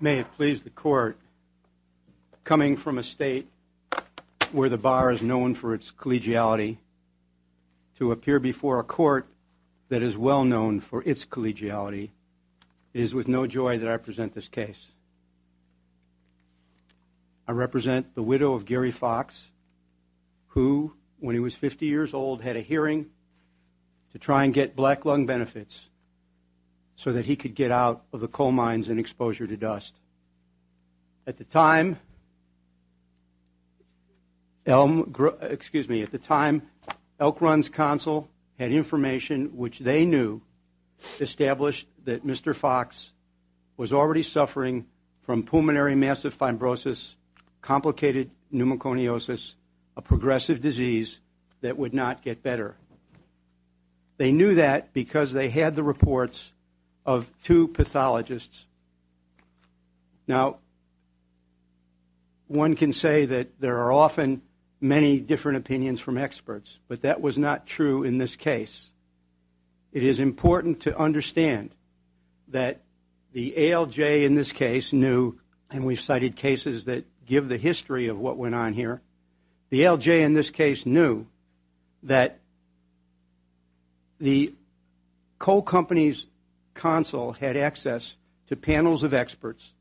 May it please the court, coming from a state where the bar is known for its collegiality, to appear before a court that is well known for its collegiality, it is with no joy that I present this case. I represent the widow of Gary Fox, who, when he was 50 years old, had a hearing to try and get black lung benefits so that he could get out of the coal mines and exposure to dust. At the time, Elk Run's counsel had information which they knew established that Mr. Fox was already suffering from pulmonary massive fibrosis, complicated pneumoconiosis, a progressive disease that would not get better. They knew that because they had the reports of two pathologists. Now, one can say that there are often many different opinions from experts, but that was not true in this case. It is important to understand that the ALJ in this case knew, and we've cited cases that give the history of what went on here, that the ALJ in this case knew that the coal company's counsel had access to panels of experts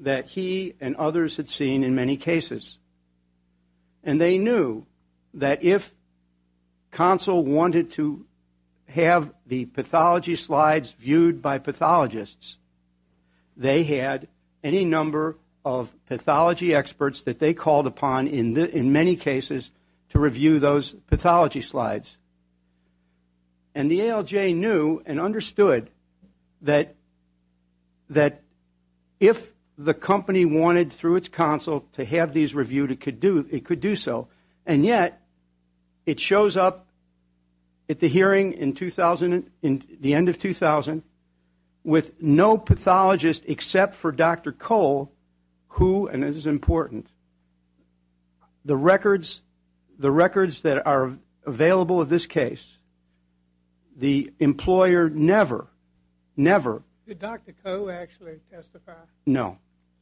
that he and others had seen in many cases. And they knew that if counsel wanted to have the pathology slides viewed by pathologists, they had any number of pathology experts that they called upon in many cases to review those pathology slides. And the ALJ knew and understood that if the company wanted through its counsel to have these reviewed, it could do so. And yet it shows up at the hearing in the end of 2000 with no pathologist except for Dr. Cole, who, and this is important, the records that are available of this case, the employer never, never. Did Dr. Cole actually testify? No.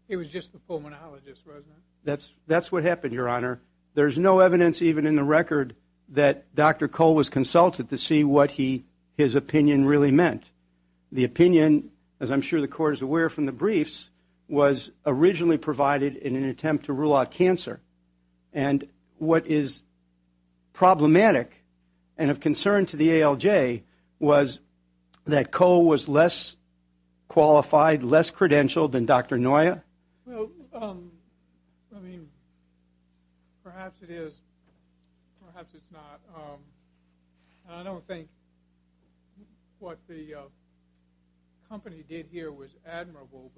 He was just the pulmonologist, wasn't he? That's what happened, Your Honor. There's no evidence even in the record that Dr. Cole was consulted to see what his opinion really meant. The opinion, as I'm sure the Court is aware from the briefs, was originally provided in an attempt to rule out cancer. And what is problematic and of concern to the ALJ was that Cole was less qualified, less credentialed than Dr. Noya. Well, I mean, perhaps it is, perhaps it's not. I don't think what the company did here was admirable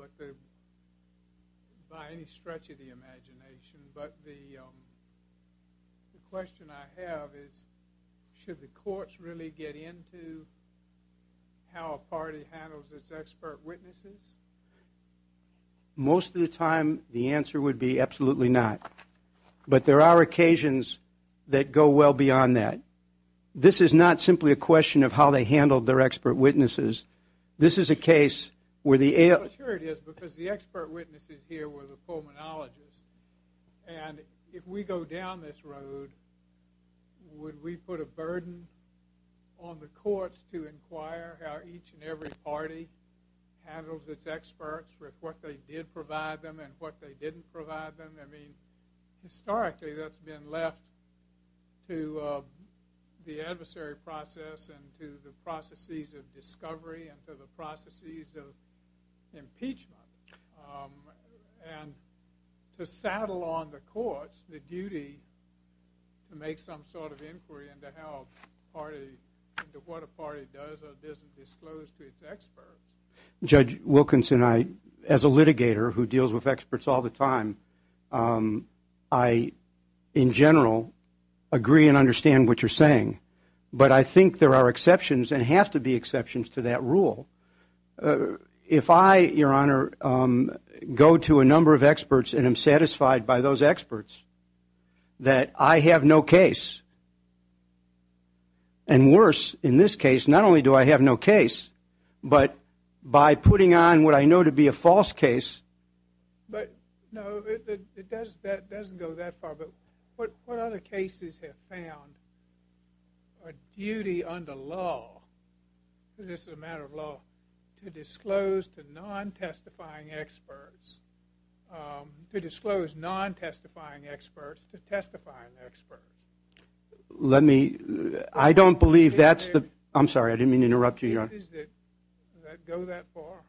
by any stretch of the imagination. But the question I have is should the courts really get into how a party handles its expert witnesses? Most of the time the answer would be absolutely not. But there are occasions that go well beyond that. This is not simply a question of how they handled their expert witnesses. This is a case where the ALJ... Well, sure it is, because the expert witnesses here were the pulmonologists. And if we go down this road, would we put a burden on the courts to inquire how each and every party handles its experts, with what they did provide them and what they didn't provide them? I mean, historically that's been left to the adversary process and to the processes of discovery and to the processes of impeachment. And to saddle on the courts the duty to make some sort of inquiry into what a party does or doesn't disclose to its experts. Judge Wilkinson, as a litigator who deals with experts all the time, I, in general, agree and understand what you're saying. But I think there are exceptions and have to be exceptions to that rule. If I, Your Honor, go to a number of experts and am satisfied by those experts that I have no case, and worse, in this case, not only do I have no case, but by putting on what I know to be a false case... But, no, that doesn't go that far. But what other cases have found a duty under law, this is a matter of law, to disclose to non-testifying experts, to disclose non-testifying experts to testifying experts? Let me... I don't believe that's the... I'm sorry, I didn't mean to interrupt you, Your Honor. Does that go that far?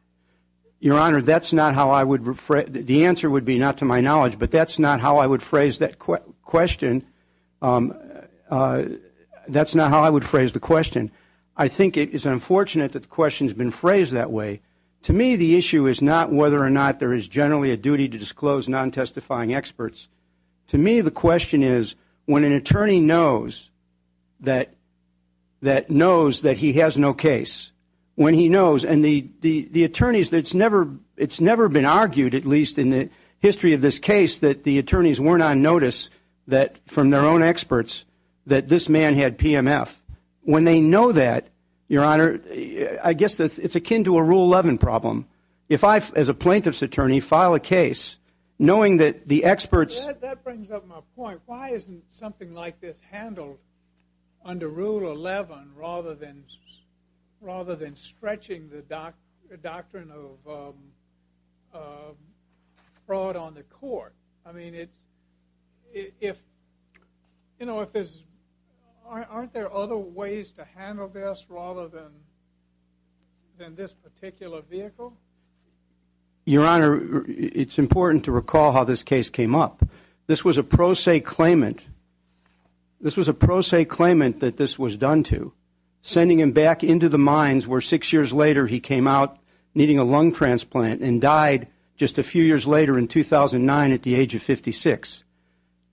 Your Honor, that's not how I would... the answer would be not to my knowledge, but that's not how I would phrase that question. That's not how I would phrase the question. I think it is unfortunate that the question has been phrased that way. To me, the issue is not whether or not there is generally a duty to disclose non-testifying experts. To me, the question is when an attorney knows that he has no case, when he knows... The attorneys, it's never been argued, at least in the history of this case, that the attorneys weren't on notice from their own experts that this man had PMF. When they know that, Your Honor, I guess it's akin to a Rule 11 problem. If I, as a plaintiff's attorney, file a case knowing that the experts... That brings up my point. Your Honor, why isn't something like this handled under Rule 11 rather than stretching the doctrine of fraud on the court? I mean, aren't there other ways to handle this rather than this particular vehicle? Your Honor, it's important to recall how this case came up. This was a pro se claimant. This was a pro se claimant that this was done to, sending him back into the mines where six years later he came out needing a lung transplant and died just a few years later in 2009 at the age of 56.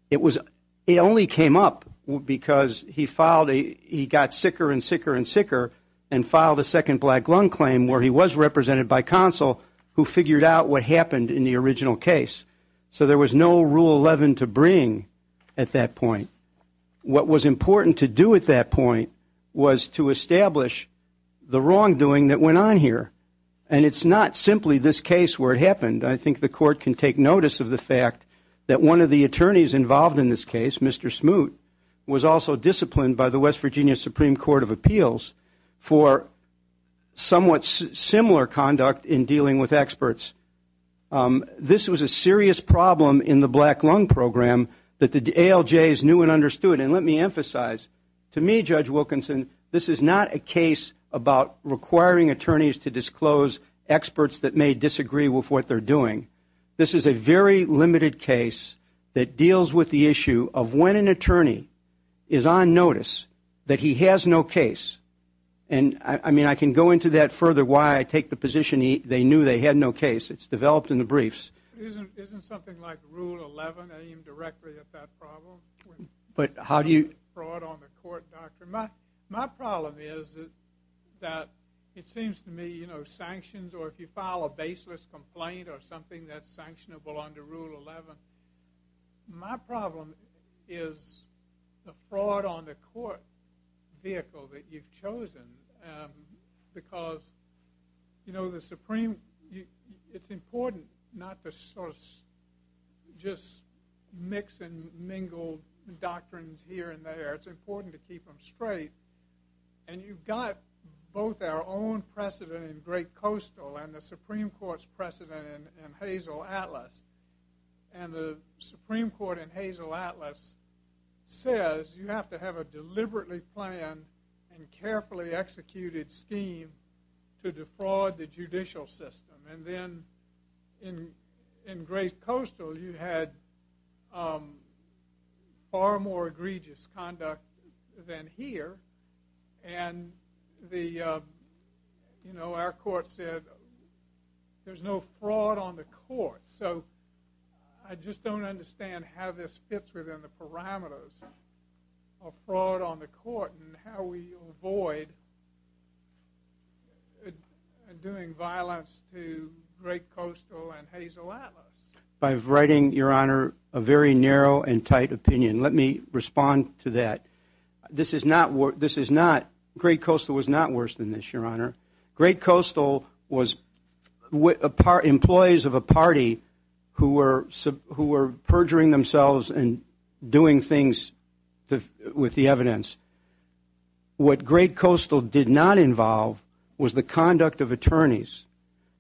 It only came up because he got sicker and sicker and sicker and filed a second black lung claim where he was represented by counsel who figured out what happened in the original case. So there was no Rule 11 to bring at that point. What was important to do at that point was to establish the wrongdoing that went on here. And it's not simply this case where it happened. I think the court can take notice of the fact that one of the attorneys involved in this case, Mr. Smoot, was also disciplined by the West Virginia Supreme Court of Appeals for somewhat similar conduct in dealing with experts. This was a serious problem in the black lung program that the ALJs knew and understood. And let me emphasize, to me, Judge Wilkinson, this is not a case about requiring attorneys to disclose experts that may disagree with what they're doing. This is a very limited case that deals with the issue of when an attorney is on notice that he has no case. And, I mean, I can go into that further why I take the position they knew they had no case. It's developed in the briefs. Isn't something like Rule 11 aimed directly at that problem? But how do you- Fraud on the court, doctor. My problem is that it seems to me, you know, sanctions, or if you file a baseless complaint or something that's sanctionable under Rule 11, my problem is the fraud on the court vehicle that you've chosen. Because, you know, the Supreme- it's important not to sort of just mix and mingle doctrines here and there. It's important to keep them straight. And you've got both our own precedent in Great Coastal and the Supreme Court's precedent in Hazel Atlas. And the Supreme Court in Hazel Atlas says you have to have a deliberately planned and carefully executed scheme to defraud the judicial system. And then in Great Coastal you had far more egregious conduct than here. And, you know, our court said there's no fraud on the court. So I just don't understand how this fits within the parameters of fraud on the court and how we avoid doing violence to Great Coastal and Hazel Atlas. I'm writing, Your Honor, a very narrow and tight opinion. Let me respond to that. This is not-Great Coastal was not worse than this, Your Honor. Great Coastal was employees of a party who were perjuring themselves and doing things with the evidence. What Great Coastal did not involve was the conduct of attorneys.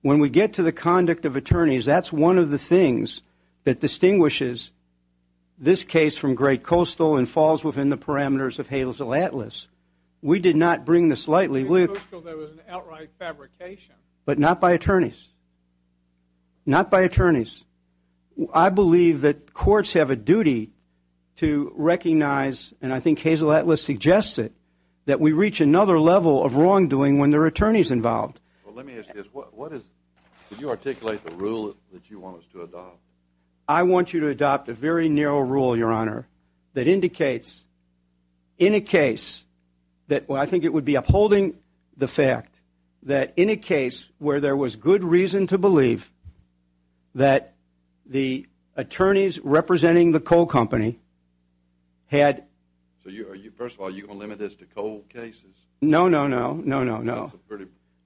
When we get to the conduct of attorneys, that's one of the things that distinguishes this case from Great Coastal and falls within the parameters of Hazel Atlas. We did not bring this lightly. In Great Coastal there was an outright fabrication. But not by attorneys. Not by attorneys. I believe that courts have a duty to recognize, and I think Hazel Atlas suggests it, that we reach another level of wrongdoing when there are attorneys involved. Well, let me ask you this. Did you articulate the rule that you want us to adopt? I want you to adopt a very narrow rule, Your Honor, that indicates in a case that I think it would be upholding the fact that in a case where there was good reason to believe that the attorneys representing the coal company had- First of all, are you going to limit this to coal cases? No, no, no, no, no, no.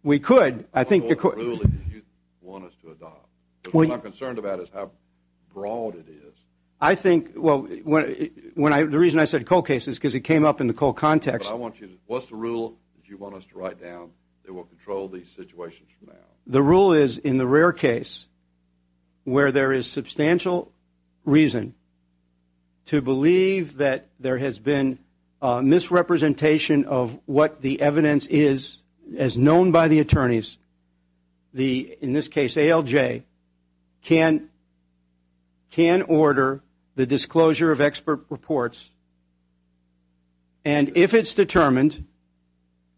We could. What rule did you want us to adopt? What I'm concerned about is how broad it is. I think the reason I said coal cases is because it came up in the coal context. What's the rule that you want us to write down that will control these situations from now? The rule is in the rare case where there is substantial reason to believe that there has been misrepresentation of what the evidence is as known by the attorneys, in this case ALJ, can order the disclosure of expert reports, and if it's determined,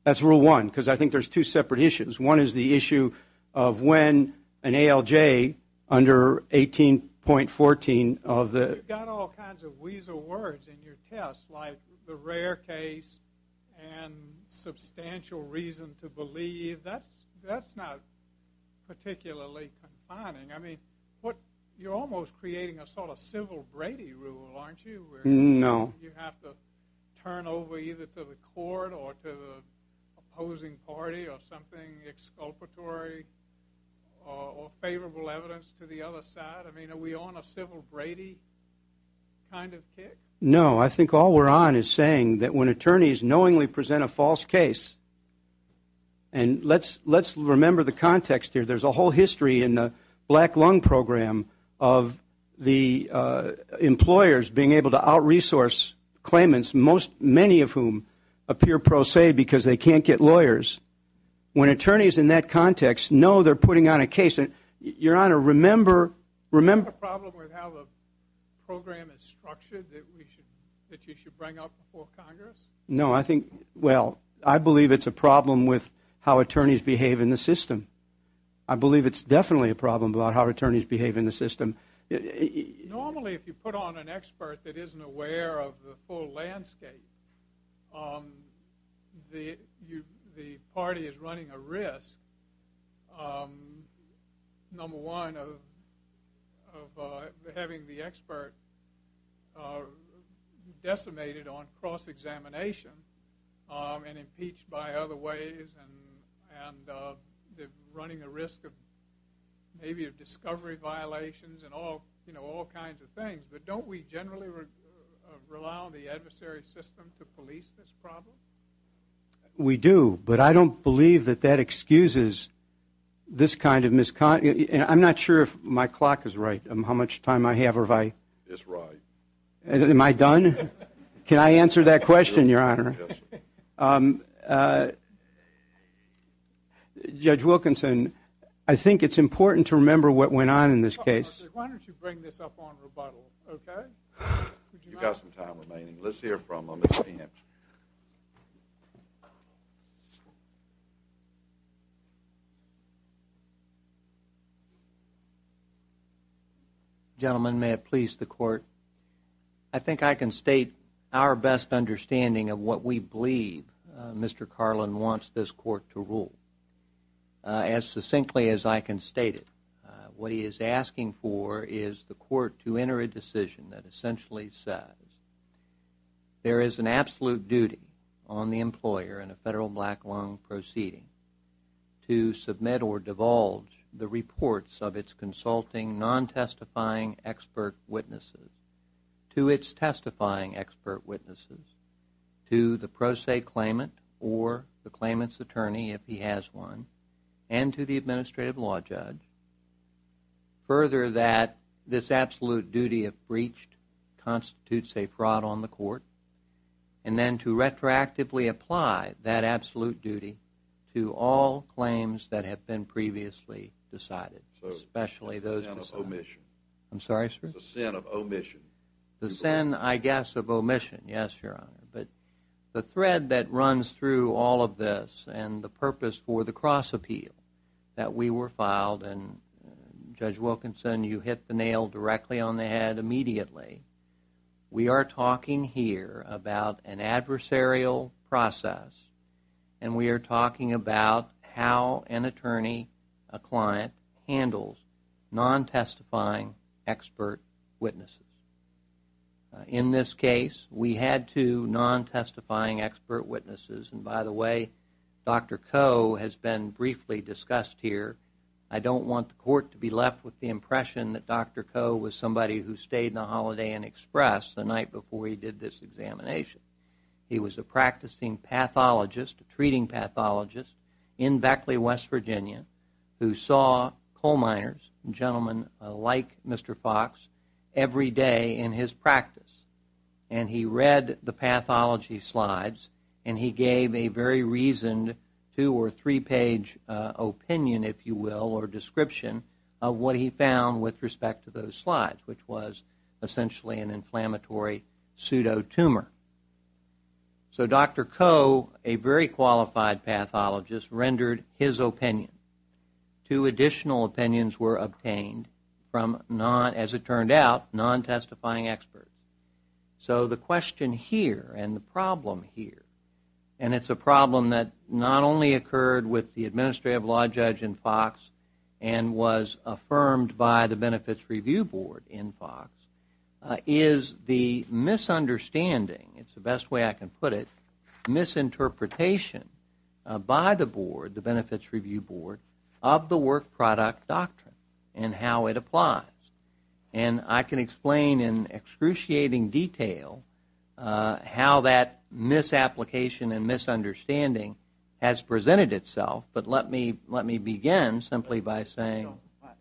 that's rule one, because I think there's two separate issues. One is the issue of when an ALJ under 18.14 of the- You've got all kinds of weasel words in your test, like the rare case and substantial reason to believe. That's not particularly confining. I mean, you're almost creating a sort of civil Brady rule, aren't you? No. You have to turn over either to the court or to the opposing party or something exculpatory or favorable evidence to the other side. I mean, are we on a civil Brady kind of kick? No. I think all we're on is saying that when attorneys knowingly present a false case and let's remember the context here. There's a whole history in the Black Lung Program of the employers being able to out-resource claimants, many of whom appear pro se because they can't get lawyers. When attorneys in that context know they're putting on a case, your Honor, remember- Is that a problem with how the program is structured that you should bring up before Congress? No, I think- Well, I believe it's a problem with how attorneys behave in the system. I believe it's definitely a problem about how attorneys behave in the system. Normally if you put on an expert that isn't aware of the full landscape, the party is running a risk, number one, of having the expert decimated on cross-examination and impeached by other ways and running a risk of maybe discovery violations and all kinds of things. But don't we generally rely on the adversary system to police this problem? We do, but I don't believe that that excuses this kind of misconduct. I'm not sure if my clock is right, how much time I have or if I- It's right. Am I done? Can I answer that question, Your Honor? Judge Wilkinson, I think it's important to remember what went on in this case. Why don't you bring this up on rebuttal, okay? You've got some time remaining. Let's hear from him. Gentlemen, may it please the Court, I think I can state our best understanding of what we believe Mr. Carlin wants this Court to rule. As succinctly as I can state it, what he is asking for is the Court to enter a decision that essentially says there is an absolute duty on the employer in a federal black lung proceeding to submit or divulge the reports of its consulting non-testifying expert witnesses to its testifying expert witnesses to the pro se claimant or the claimant's attorney if he has one and to the administrative law judge. Further, that this absolute duty, if breached, constitutes a fraud on the Court and then to retroactively apply that absolute duty to all claims that have been previously decided, It's a sin of omission. I'm sorry, sir? It's a sin of omission. The sin, I guess, of omission, yes, Your Honor. But the thread that runs through all of this and the purpose for the cross appeal that we were filed, and Judge Wilkinson, you hit the nail directly on the head immediately, we are talking here about an adversarial process and we are talking about how an attorney, a client, handles non-testifying expert witnesses. In this case, we had two non-testifying expert witnesses and by the way, Dr. Coe has been briefly discussed here. I don't want the Court to be left with the impression that Dr. Coe was somebody who stayed in the Holiday Inn Express the night before he did this examination. He was a practicing pathologist, a treating pathologist, in Beckley, West Virginia, who saw coal miners, gentlemen like Mr. Fox, every day in his practice and he read the pathology slides and he gave a very reasoned, two or three page opinion, if you will, or description of what he found with respect to those slides, which was essentially an inflammatory pseudo-tumor. So Dr. Coe, a very qualified pathologist, rendered his opinion. Two additional opinions were obtained from, as it turned out, non-testifying experts. So the question here and the problem here, and it's a problem that not only occurred with the Administrative Law Judge in Fox and was affirmed by the Benefits Review Board in Fox, is the misunderstanding, it's the best way I can put it, misinterpretation by the Board, the Benefits Review Board, of the Work Product Doctrine and how it applies. And I can explain in excruciating detail how that misapplication and misunderstanding has presented itself, but let me begin simply by saying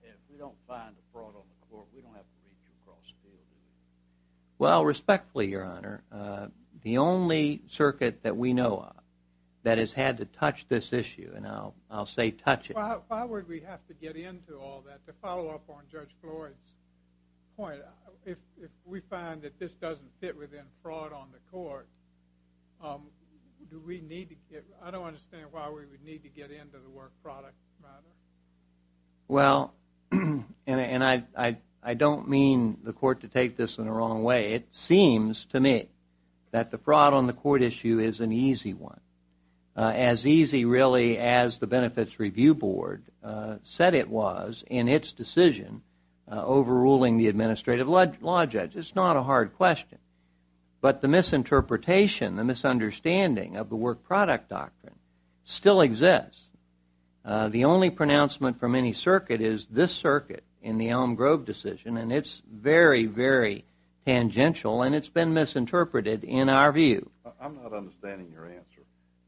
if we don't find a fraud on the court, we don't have to reach across the field, do we? Why would we have to get into all that? To follow up on Judge Floyd's point, if we find that this doesn't fit within fraud on the court, do we need to get, I don't understand why we would need to get into the work product matter. Well, and I don't mean the court to take this in the wrong way. It seems to me that the fraud on the court issue is an easy one, as easy really as the Benefits Review Board said it was in its decision overruling the Administrative Law Judge. It's not a hard question. But the misinterpretation, the misunderstanding of the Work Product Doctrine still exists. The only pronouncement from any circuit is this circuit in the Elm Grove decision, and it's very, very tangential, and it's been misinterpreted in our view. I'm not understanding your answer.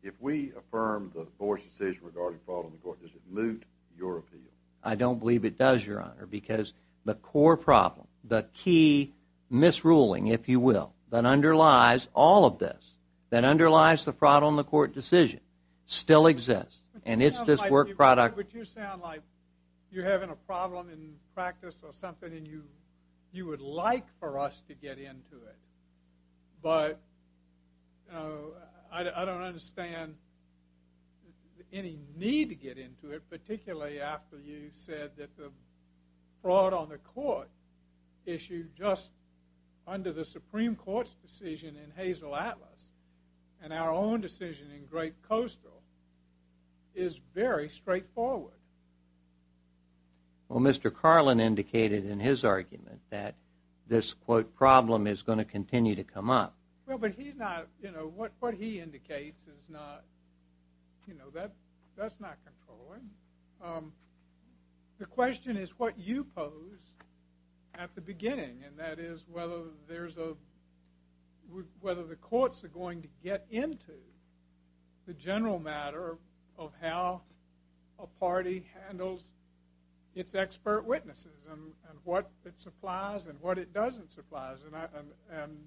If we affirm the Board's decision regarding fraud on the court, does it moot your appeal? I don't believe it does, Your Honor, because the core problem, the key misruling, if you will, that underlies all of this, that underlies the fraud on the court decision, still exists, and it's this work product. But you sound like you're having a problem in practice or something, and you would like for us to get into it, but I don't understand any need to get into it, particularly after you said that the fraud on the court issue just under the Supreme Court's decision in Hazel Atlas and our own decision in Great Coastal is very straightforward. Well, Mr. Carlin indicated in his argument that this, quote, problem is going to continue to come up. Well, but he's not, you know, what he indicates is not, you know, that's not controlling. And that is whether there's a, whether the courts are going to get into the general matter of how a party handles its expert witnesses and what it supplies and what it doesn't supply. And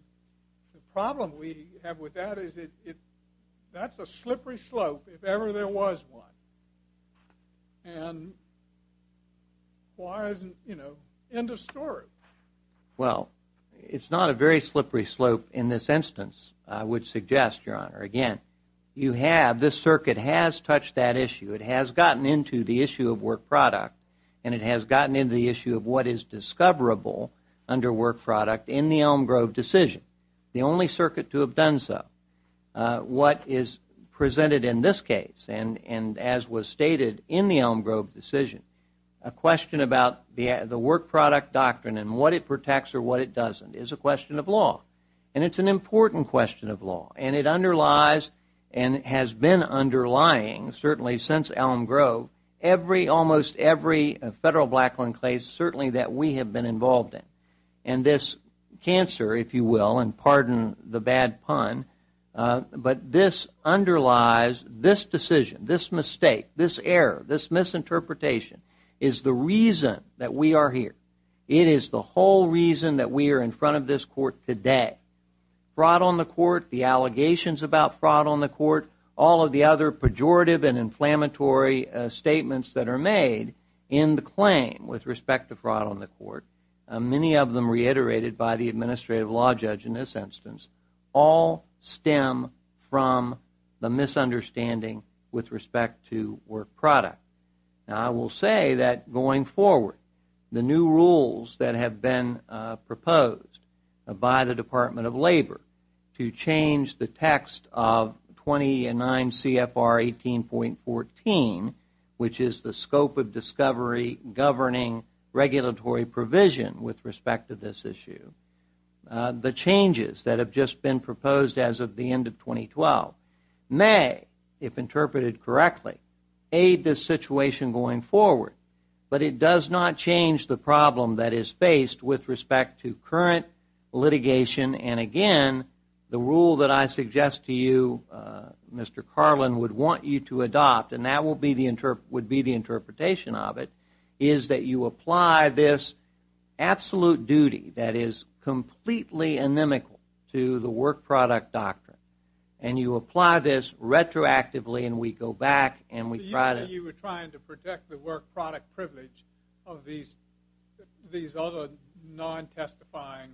the problem we have with that is it, that's a slippery slope if ever there was one. And why isn't, you know, end of story? Well, it's not a very slippery slope in this instance, I would suggest, Your Honor. Again, you have, this circuit has touched that issue. It has gotten into the issue of work product, and it has gotten into the issue of what is discoverable under work product in the Elm Grove decision, the only circuit to have done so. What is presented in this case, and as was stated in the Elm Grove decision, a question about the work product doctrine and what it protects or what it doesn't is a question of law. And it's an important question of law. And it underlies and has been underlying certainly since Elm Grove every, almost every federal Blackland case certainly that we have been involved in. And this cancer, if you will, and pardon the bad pun, but this underlies this decision, this mistake, this error, this misinterpretation is the reason that we are here. It is the whole reason that we are in front of this court today. Fraud on the court, the allegations about fraud on the court, all of the other pejorative and inflammatory statements that are made in the claim with respect to fraud on the court, many of them reiterated by the administrative law judge in this instance, all stem from the misunderstanding with respect to work product. Now, I will say that going forward, the new rules that have been proposed by the Department of Labor to change the text of 29 CFR 18.14, which is the scope of discovery governing regulatory provision with respect to this issue, the changes that have just been proposed as of the end of 2012 may, if interpreted correctly, aid this situation going forward. But it does not change the problem that is faced with respect to current litigation. And again, the rule that I suggest to you, Mr. Carlin, would want you to adopt, and that would be the interpretation of it, is that you apply this absolute duty that is completely inimical to the work product doctrine, and you apply this retroactively, and we go back and we try to- You say you were trying to protect the work product privilege of these other non-testifying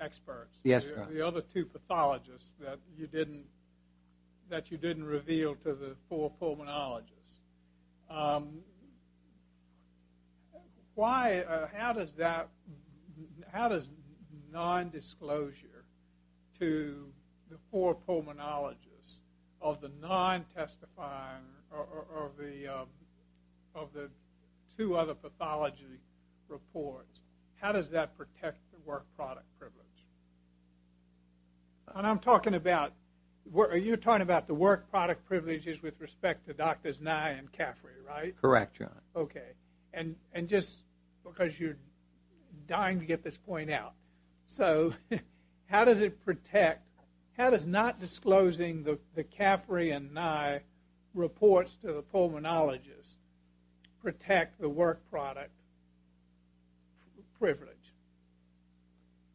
experts, the other two pathologists that you didn't reveal to the four pulmonologists. How does non-disclosure to the four pulmonologists of the two other pathology reports, how does that protect the work product privilege? And I'm talking about- You're talking about the work product privileges with respect to Drs. Nye and Caffrey, right? Correct, John. Okay. And just because you're dying to get this point out. So how does it protect- How does not disclosing the Caffrey and Nye reports to the pulmonologists protect the work product privilege?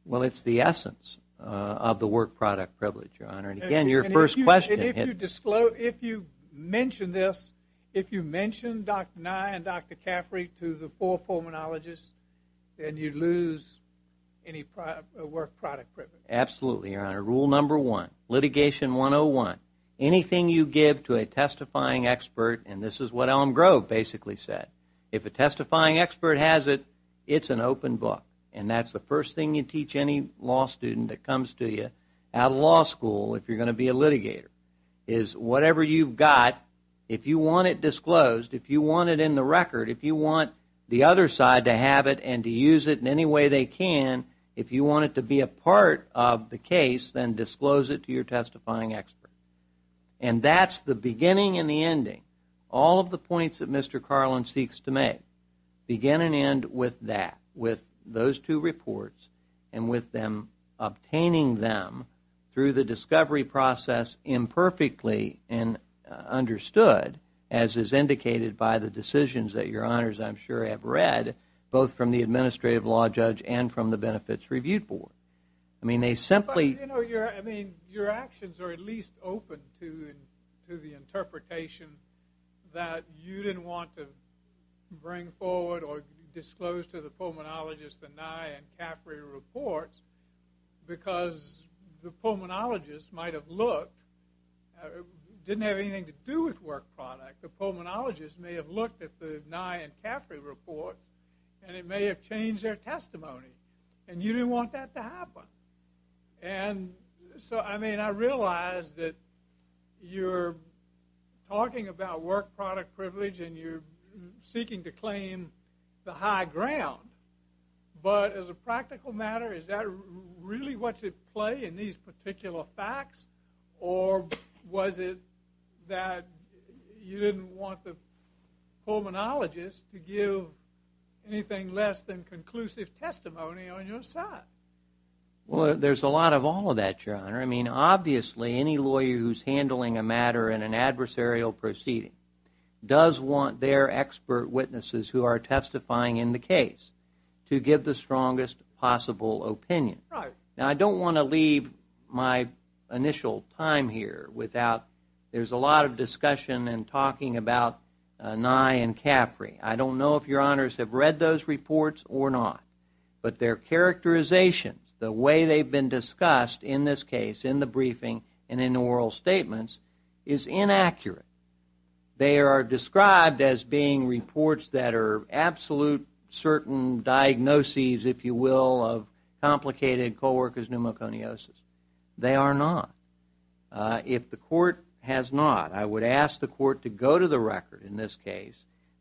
Well, it's the essence of the work product privilege, Your Honor. And again, your first question- If you mention this, if you mention Dr. Nye and Dr. Caffrey to the four pulmonologists, then you lose any work product privilege. Absolutely, Your Honor. Rule number one, litigation 101. Anything you give to a testifying expert, and this is what Elm Grove basically said, if a testifying expert has it, it's an open book. And that's the first thing you teach any law student that comes to you at a law school, if you're going to be a litigator, is whatever you've got, if you want it disclosed, if you want it in the record, if you want the other side to have it and to use it in any way they can, if you want it to be a part of the case, then disclose it to your testifying expert. And that's the beginning and the ending. All of the points that Mr. Carlin seeks to make begin and end with that, with those two reports and with them obtaining them through the discovery process imperfectly understood, as is indicated by the decisions that Your Honors, I'm sure, have read, both from the administrative law judge and from the Benefits Review Board. I mean, they simply – But, you know, I mean, your actions are at least open to the interpretation that you didn't want to bring forward or disclose to the pulmonologist the Nye and Caffrey reports because the pulmonologist might have looked, didn't have anything to do with work product. The pulmonologist may have looked at the Nye and Caffrey report and it may have changed their testimony and you didn't want that to happen. And so, I mean, I realize that you're talking about work product privilege and you're seeking to claim the high ground, but as a practical matter, is that really what's at play in these particular facts or was it that you didn't want the pulmonologist to give anything less than conclusive testimony on your side? Well, there's a lot of all of that, Your Honor. I mean, obviously, any lawyer who's handling a matter in an adversarial proceeding does want their expert witnesses who are testifying in the case to give the strongest possible opinion. Now, I don't want to leave my initial time here without there's a lot of discussion and talking about Nye and Caffrey. I don't know if Your Honors have read those reports or not, but their characterization, the way they've been discussed in this case, in the briefing and in the oral statements, is inaccurate. They are described as being reports that are absolute certain diagnoses, if you will, of complicated co-worker's pneumoconiosis. They are not. If the court has not, I would ask the court to go to the record in this case.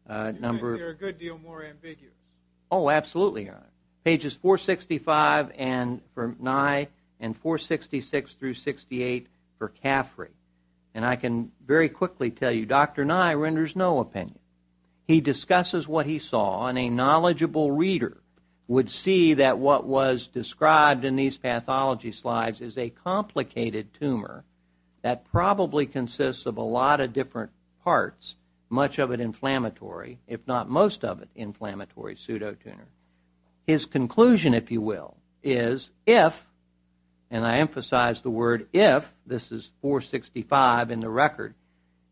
You're a good deal more ambiguous. Oh, absolutely, Your Honor. Pages 465 for Nye and 466 through 68 for Caffrey. And I can very quickly tell you Dr. Nye renders no opinion. He discusses what he saw, and a knowledgeable reader would see that what was described in these pathology slides is a complicated tumor that probably consists of a lot of different parts, much of it inflammatory, if not most of it inflammatory, pseudotumor. His conclusion, if you will, is if, and I emphasize the word if, this is 465 in the record,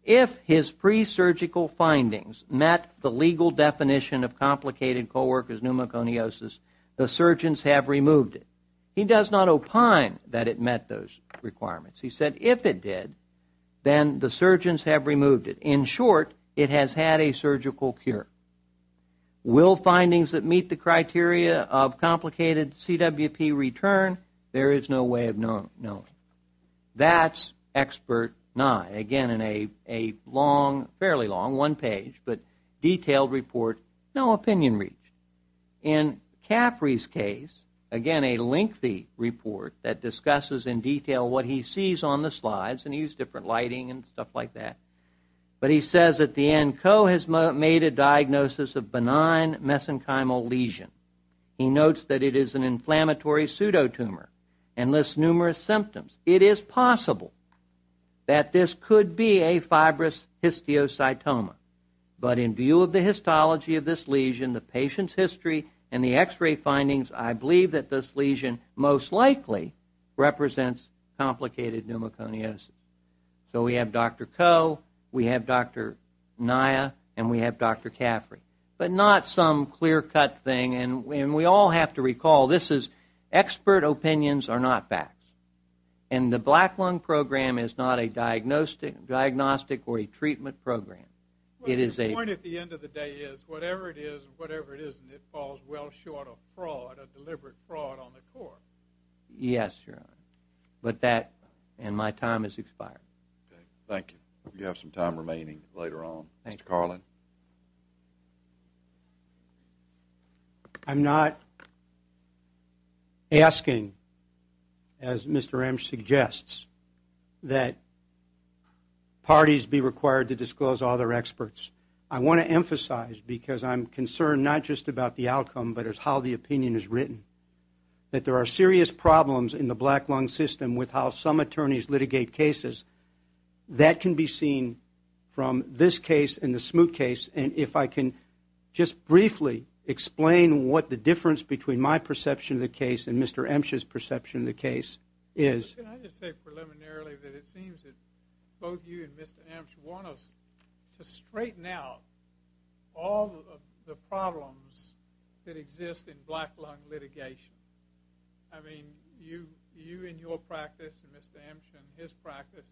if his presurgical findings met the legal definition of complicated co-worker's pneumoconiosis, the surgeons have removed it. He does not opine that it met those requirements. He said if it did, then the surgeons have removed it. In short, it has had a surgical cure. Will findings that meet the criteria of complicated CWP return? There is no way of knowing. That's expert Nye, again in a long, fairly long, one page, but detailed report, no opinion reached. In Caffrey's case, again a lengthy report that discusses in detail what he sees on the slides, and he used different lighting and stuff like that, but he says at the end, Coe has made a diagnosis of benign mesenchymal lesion. He notes that it is an inflammatory pseudotumor and lists numerous symptoms. It is possible that this could be a fibrous histiocytoma, but in view of the histology of this lesion, the patient's history, and the x-ray findings, I believe that this lesion most likely represents complicated pneumoconiosis. So we have Dr. Coe, we have Dr. Nye, and we have Dr. Caffrey, but not some clear-cut thing. And we all have to recall this is expert opinions are not facts. And the black lung program is not a diagnostic or a treatment program. The point at the end of the day is, whatever it is, whatever it isn't, it falls well short of fraud, of deliberate fraud on the court. Yes, Your Honor. But that, and my time has expired. Thank you. You have some time remaining later on. Mr. Carlin. I'm not asking, as Mr. Ramsch suggests, that parties be required to disclose all their experts. I want to emphasize, because I'm concerned not just about the outcome, but it's how the opinion is written, that there are serious problems in the black lung system with how some attorneys litigate cases. That can be seen from this case and the Smoot case. And if I can just briefly explain what the difference between my perception of the case and Mr. Ramsch's perception of the case is. Can I just say preliminarily that it seems that both you and Mr. Ramsch want us to straighten out all of the problems that exist in black lung litigation. I mean, you in your practice and Mr. Ramsch in his practice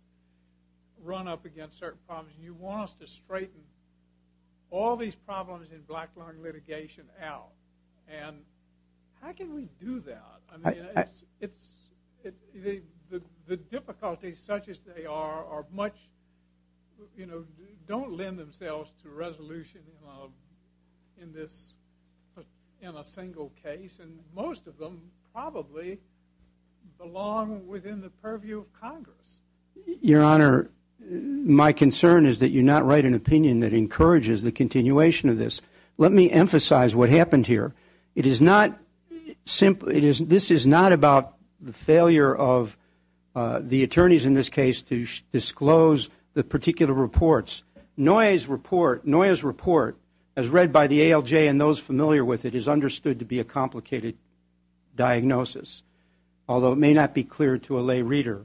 run up against certain problems. You want us to straighten all these problems in black lung litigation out. And how can we do that? I mean, the difficulties such as they are, don't lend themselves to resolution in a single case. And most of them probably belong within the purview of Congress. Your Honor, my concern is that you not write an opinion that encourages the continuation of this. Let me emphasize what happened here. This is not about the failure of the attorneys in this case to disclose the particular reports. Noye's report, as read by the ALJ and those familiar with it, is understood to be a complicated diagnosis. Although it may not be clear to a lay reader.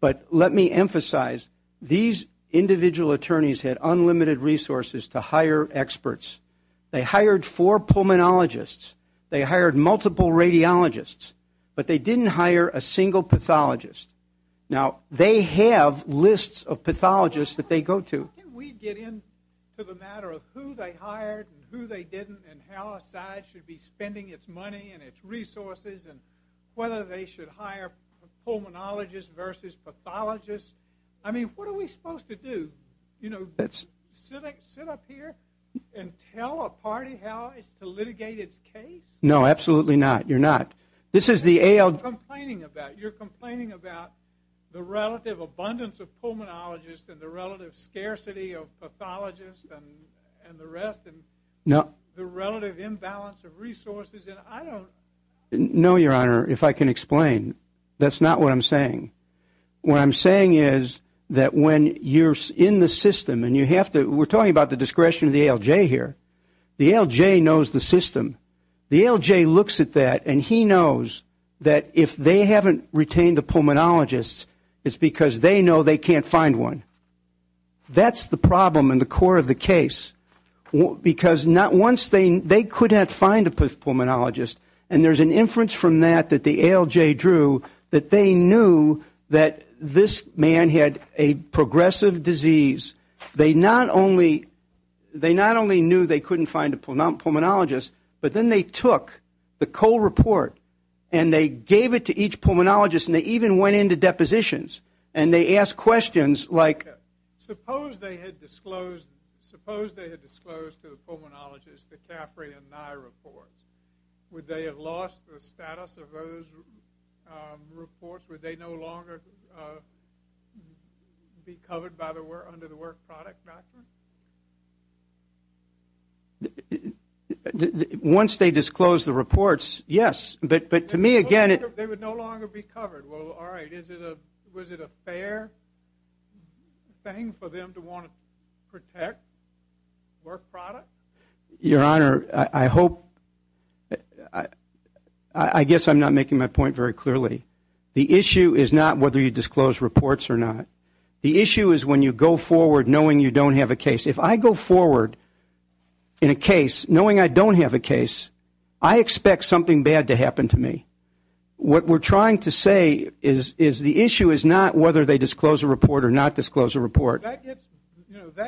But let me emphasize, these individual attorneys had unlimited resources to hire experts. They hired four pulmonologists. They hired multiple radiologists. But they didn't hire a single pathologist. Now, they have lists of pathologists that they go to. How can we get into the matter of who they hired and who they didn't and how a side should be spending its money and its resources and whether they should hire pulmonologists versus pathologists? I mean, what are we supposed to do? You know, sit up here and tell a party how to litigate its case? No, absolutely not. You're not. This is the ALJ. You're complaining about the relative abundance of pulmonologists and the relative scarcity of pathologists and the rest and the relative imbalance of resources. And I don't know, Your Honor, if I can explain. That's not what I'm saying. What I'm saying is that when you're in the system and you have to we're talking about the discretion of the ALJ here. The ALJ knows the system. The ALJ looks at that, and he knows that if they haven't retained a pulmonologist, it's because they know they can't find one. That's the problem and the core of the case. Because once they couldn't find a pulmonologist, and there's an inference from that that the ALJ drew, that they knew that this man had a progressive disease. They not only knew they couldn't find a pulmonologist, but then they took the Cole report and they gave it to each pulmonologist and they even went into depositions and they asked questions like Suppose they had disclosed to the pulmonologist the Caffrey and Nye report. Would they have lost the status of those reports? Would they no longer be covered under the work product doctrine? Once they disclosed the reports, yes. But to me, again, it They would no longer be covered. Well, all right. Was it a fair thing for them to want to protect work product? Your Honor, I hope I guess I'm not making my point very clearly. The issue is not whether you disclose reports or not. The issue is when you go forward knowing you don't have a case. If I go forward in a case knowing I don't have a case, I expect something bad to happen to me. What we're trying to say is the issue is not whether they disclose a report or not disclose a report. That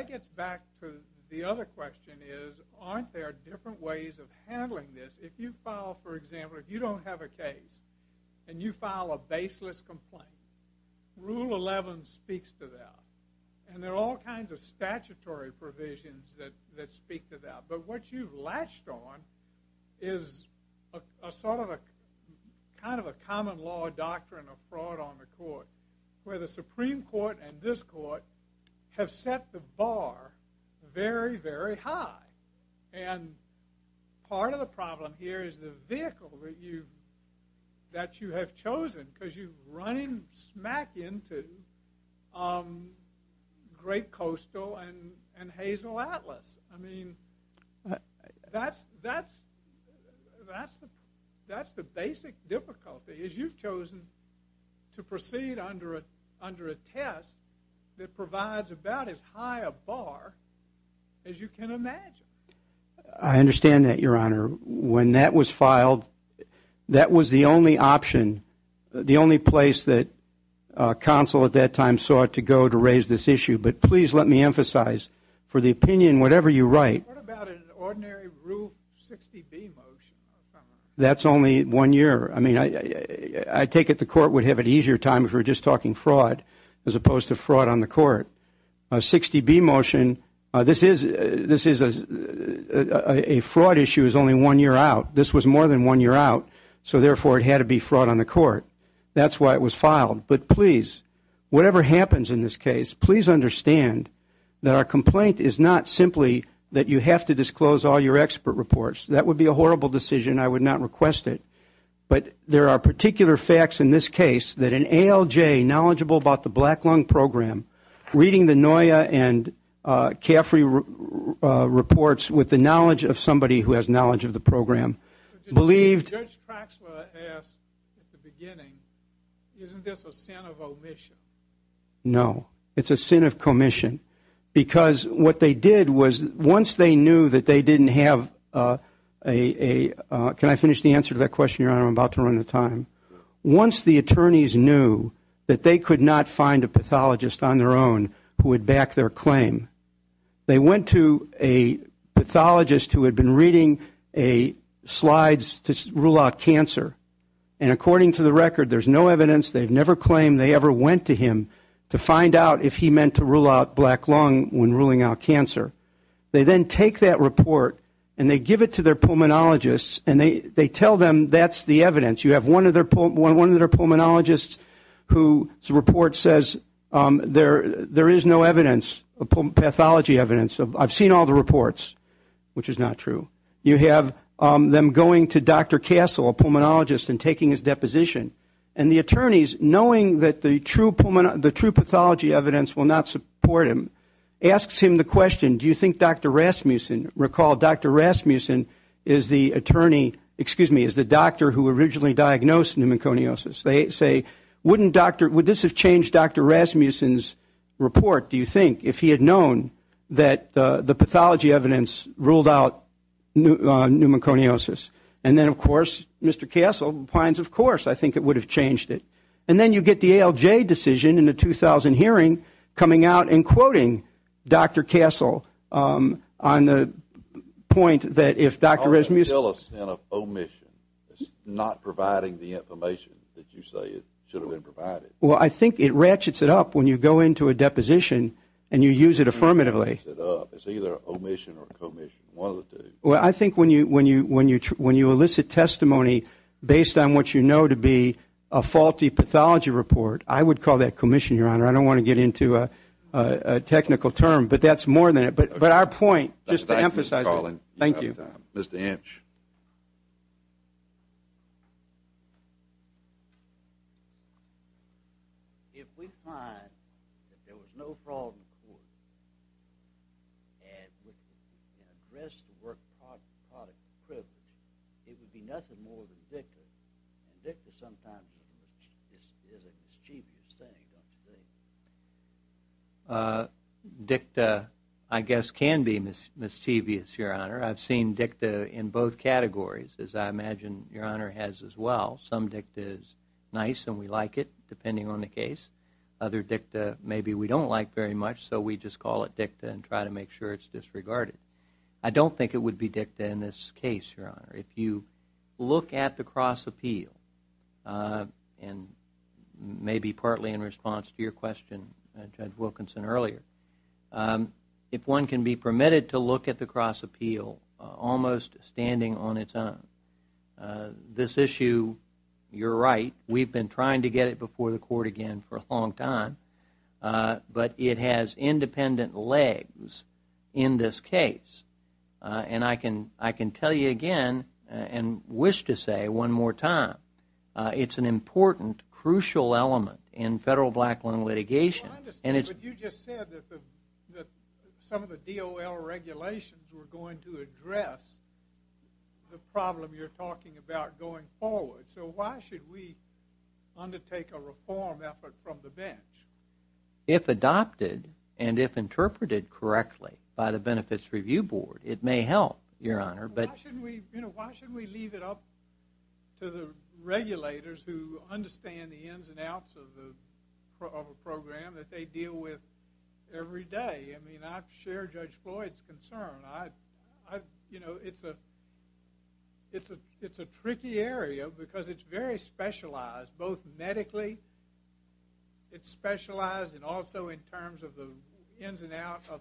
gets back to the other question is aren't there different ways of handling this? If you file, for example, if you don't have a case and you file a baseless complaint, Rule 11 speaks to that. And there are all kinds of statutory provisions that speak to that. But what you've latched on is a sort of a kind of a common law doctrine of fraud on the court where the Supreme Court and this court have set the bar very, very high. And part of the problem here is the vehicle that you have chosen because you've run smack into Great Coastal and Hazel Atlas. I mean, that's the basic difficulty is you've chosen to proceed under a test that provides about as high a bar as you can imagine. I understand that, Your Honor. When that was filed, that was the only option, the only place that counsel at that time sought to go to raise this issue. But please let me emphasize, for the opinion, whatever you write. What about an ordinary Rule 60B motion? That's only one year. I mean, I take it the court would have an easier time if we were just talking fraud as opposed to fraud on the court. A 60B motion, this is a fraud issue is only one year out. This was more than one year out, so therefore it had to be fraud on the court. That's why it was filed. But please, whatever happens in this case, please understand that our complaint is not simply that you have to disclose all your expert reports. That would be a horrible decision. I would not request it. But there are particular facts in this case that an ALJ knowledgeable about the Black Lung Program, reading the NOIA and CAFRI reports with the knowledge of somebody who has knowledge of the program, believed. Judge Craxwell asked at the beginning, isn't this a sin of omission? No. It's a sin of commission. Because what they did was once they knew that they didn't have a – can I finish the answer to that question, Your Honor? I'm about to run out of time. Once the attorneys knew that they could not find a pathologist on their own who would back their claim, they went to a pathologist who had been reading slides to rule out cancer. And according to the record, there's no evidence. They've never claimed they ever went to him to find out if he meant to rule out black lung when ruling out cancer. They then take that report and they give it to their pulmonologist and they tell them that's the evidence. You have one of their pulmonologists whose report says there is no evidence, pathology evidence. I've seen all the reports, which is not true. You have them going to Dr. Castle, a pulmonologist, and taking his deposition. And the attorneys, knowing that the true pathology evidence will not support him, asks him the question, do you think Dr. Rasmussen – recall Dr. Rasmussen is the attorney – excuse me, is the doctor who originally diagnosed pneumoconiosis. They say, wouldn't Dr. – would this have changed Dr. Rasmussen's report, do you think, if he had known that the pathology evidence ruled out pneumoconiosis? And then, of course, Mr. Castle replies, of course, I think it would have changed it. And then you get the ALJ decision in the 2000 hearing coming out and quoting Dr. Castle on the point that if Dr. Rasmussen – Tell us an omission, not providing the information that you say should have been provided. Well, I think it ratchets it up when you go into a deposition and you use it affirmatively. It's either omission or commission, one of the two. Well, I think when you elicit testimony based on what you know to be a faulty pathology report, I would call that commission, Your Honor. I don't want to get into a technical term, but that's more than it. But our point, just to emphasize – Thank you, Mr. Carlin. Thank you. Mr. Inch. If we find that there was no fraud in the court and addressed the work of pathology privilege, it would be nothing more than dicta. And dicta sometimes is a mischievous thing, I would say. Dicta, I guess, can be mischievous, Your Honor. I've seen dicta in both categories, as I imagine Your Honor has as well. Some dicta is nice and we like it, depending on the case. Other dicta maybe we don't like very much, so we just call it dicta and try to make sure it's disregarded. I don't think it would be dicta in this case, Your Honor. If you look at the cross appeal, and maybe partly in response to your question, Judge Wilkinson, earlier, if one can be permitted to look at the cross appeal almost standing on its own. This issue, you're right, we've been trying to get it before the court again for a long time, but it has independent legs in this case. And I can tell you again and wish to say one more time, it's an important, crucial element in federal black loan litigation. I understand, but you just said that some of the DOL regulations were going to address the problem you're talking about going forward. So why should we undertake a reform effort from the bench? If adopted and if interpreted correctly by the Benefits Review Board, it may help, Your Honor. Why should we leave it up to the regulators who understand the ins and outs of a program that they deal with every day? I mean, I share Judge Floyd's concern. You know, it's a tricky area because it's very specialized, both medically, it's specialized and also in terms of the ins and outs of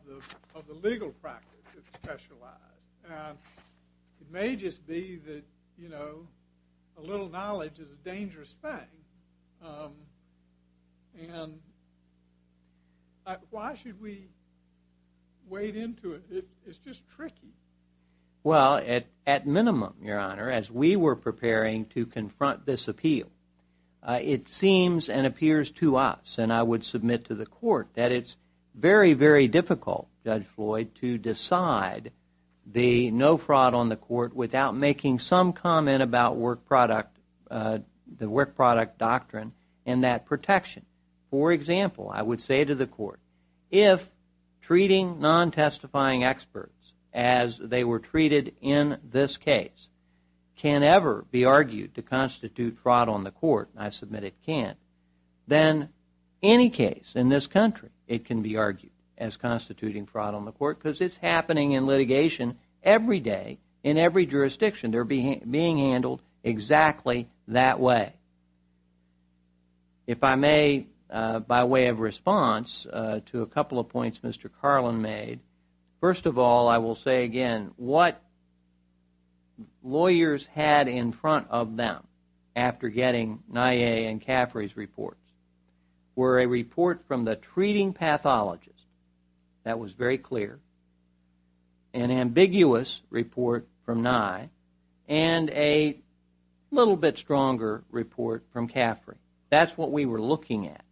the legal practice, it's specialized. It may just be that, you know, a little knowledge is a dangerous thing. And why should we wade into it? It's just tricky. Well, at minimum, Your Honor, as we were preparing to confront this appeal, it seems and appears to us, and I would submit to the court, that it's very, very difficult, Judge Floyd, to decide the no fraud on the court without making some comment about the work product doctrine and that protection. For example, I would say to the court, if treating non-testifying experts as they were treated in this case can ever be argued to constitute fraud on the court, and I submit it can't, then any case in this country it can be argued as constituting fraud on the court because it's happening in litigation every day in every jurisdiction. They're being handled exactly that way. If I may, by way of response to a couple of points Mr. Carlin made, first of all, I will say again what lawyers had in front of them after getting Nye and Caffrey's reports were a report from the treating pathologist that was very clear, an ambiguous report from Nye, and a little bit stronger report from Caffrey. That's what we were looking at,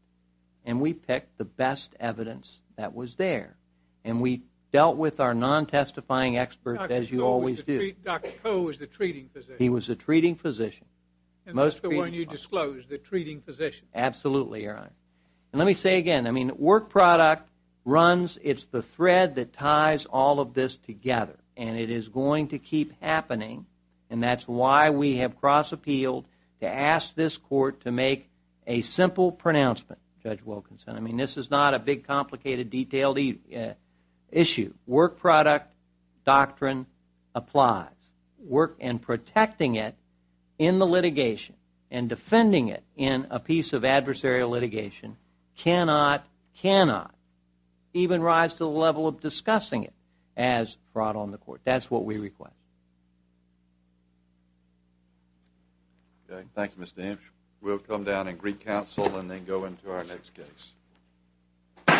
and we picked the best evidence that was there, and we dealt with our non-testifying experts as you always do. Dr. Coe was the treating physician. He was the treating physician. And that's the one you disclosed, the treating physician. Absolutely, Your Honor. And let me say again, work product runs, it's the thread that ties all of this together, and it is going to keep happening, and that's why we have cross-appealed to ask this court to make a simple pronouncement, Judge Wilkinson. I mean, this is not a big, complicated, detailed issue. Work product doctrine applies. Work and protecting it in the litigation and defending it in a piece of adversarial litigation cannot, cannot, even rise to the level of discussing it as fraud on the court. That's what we request. Thank you, Mr. Ames. We'll come down and recounsel and then go into our next case.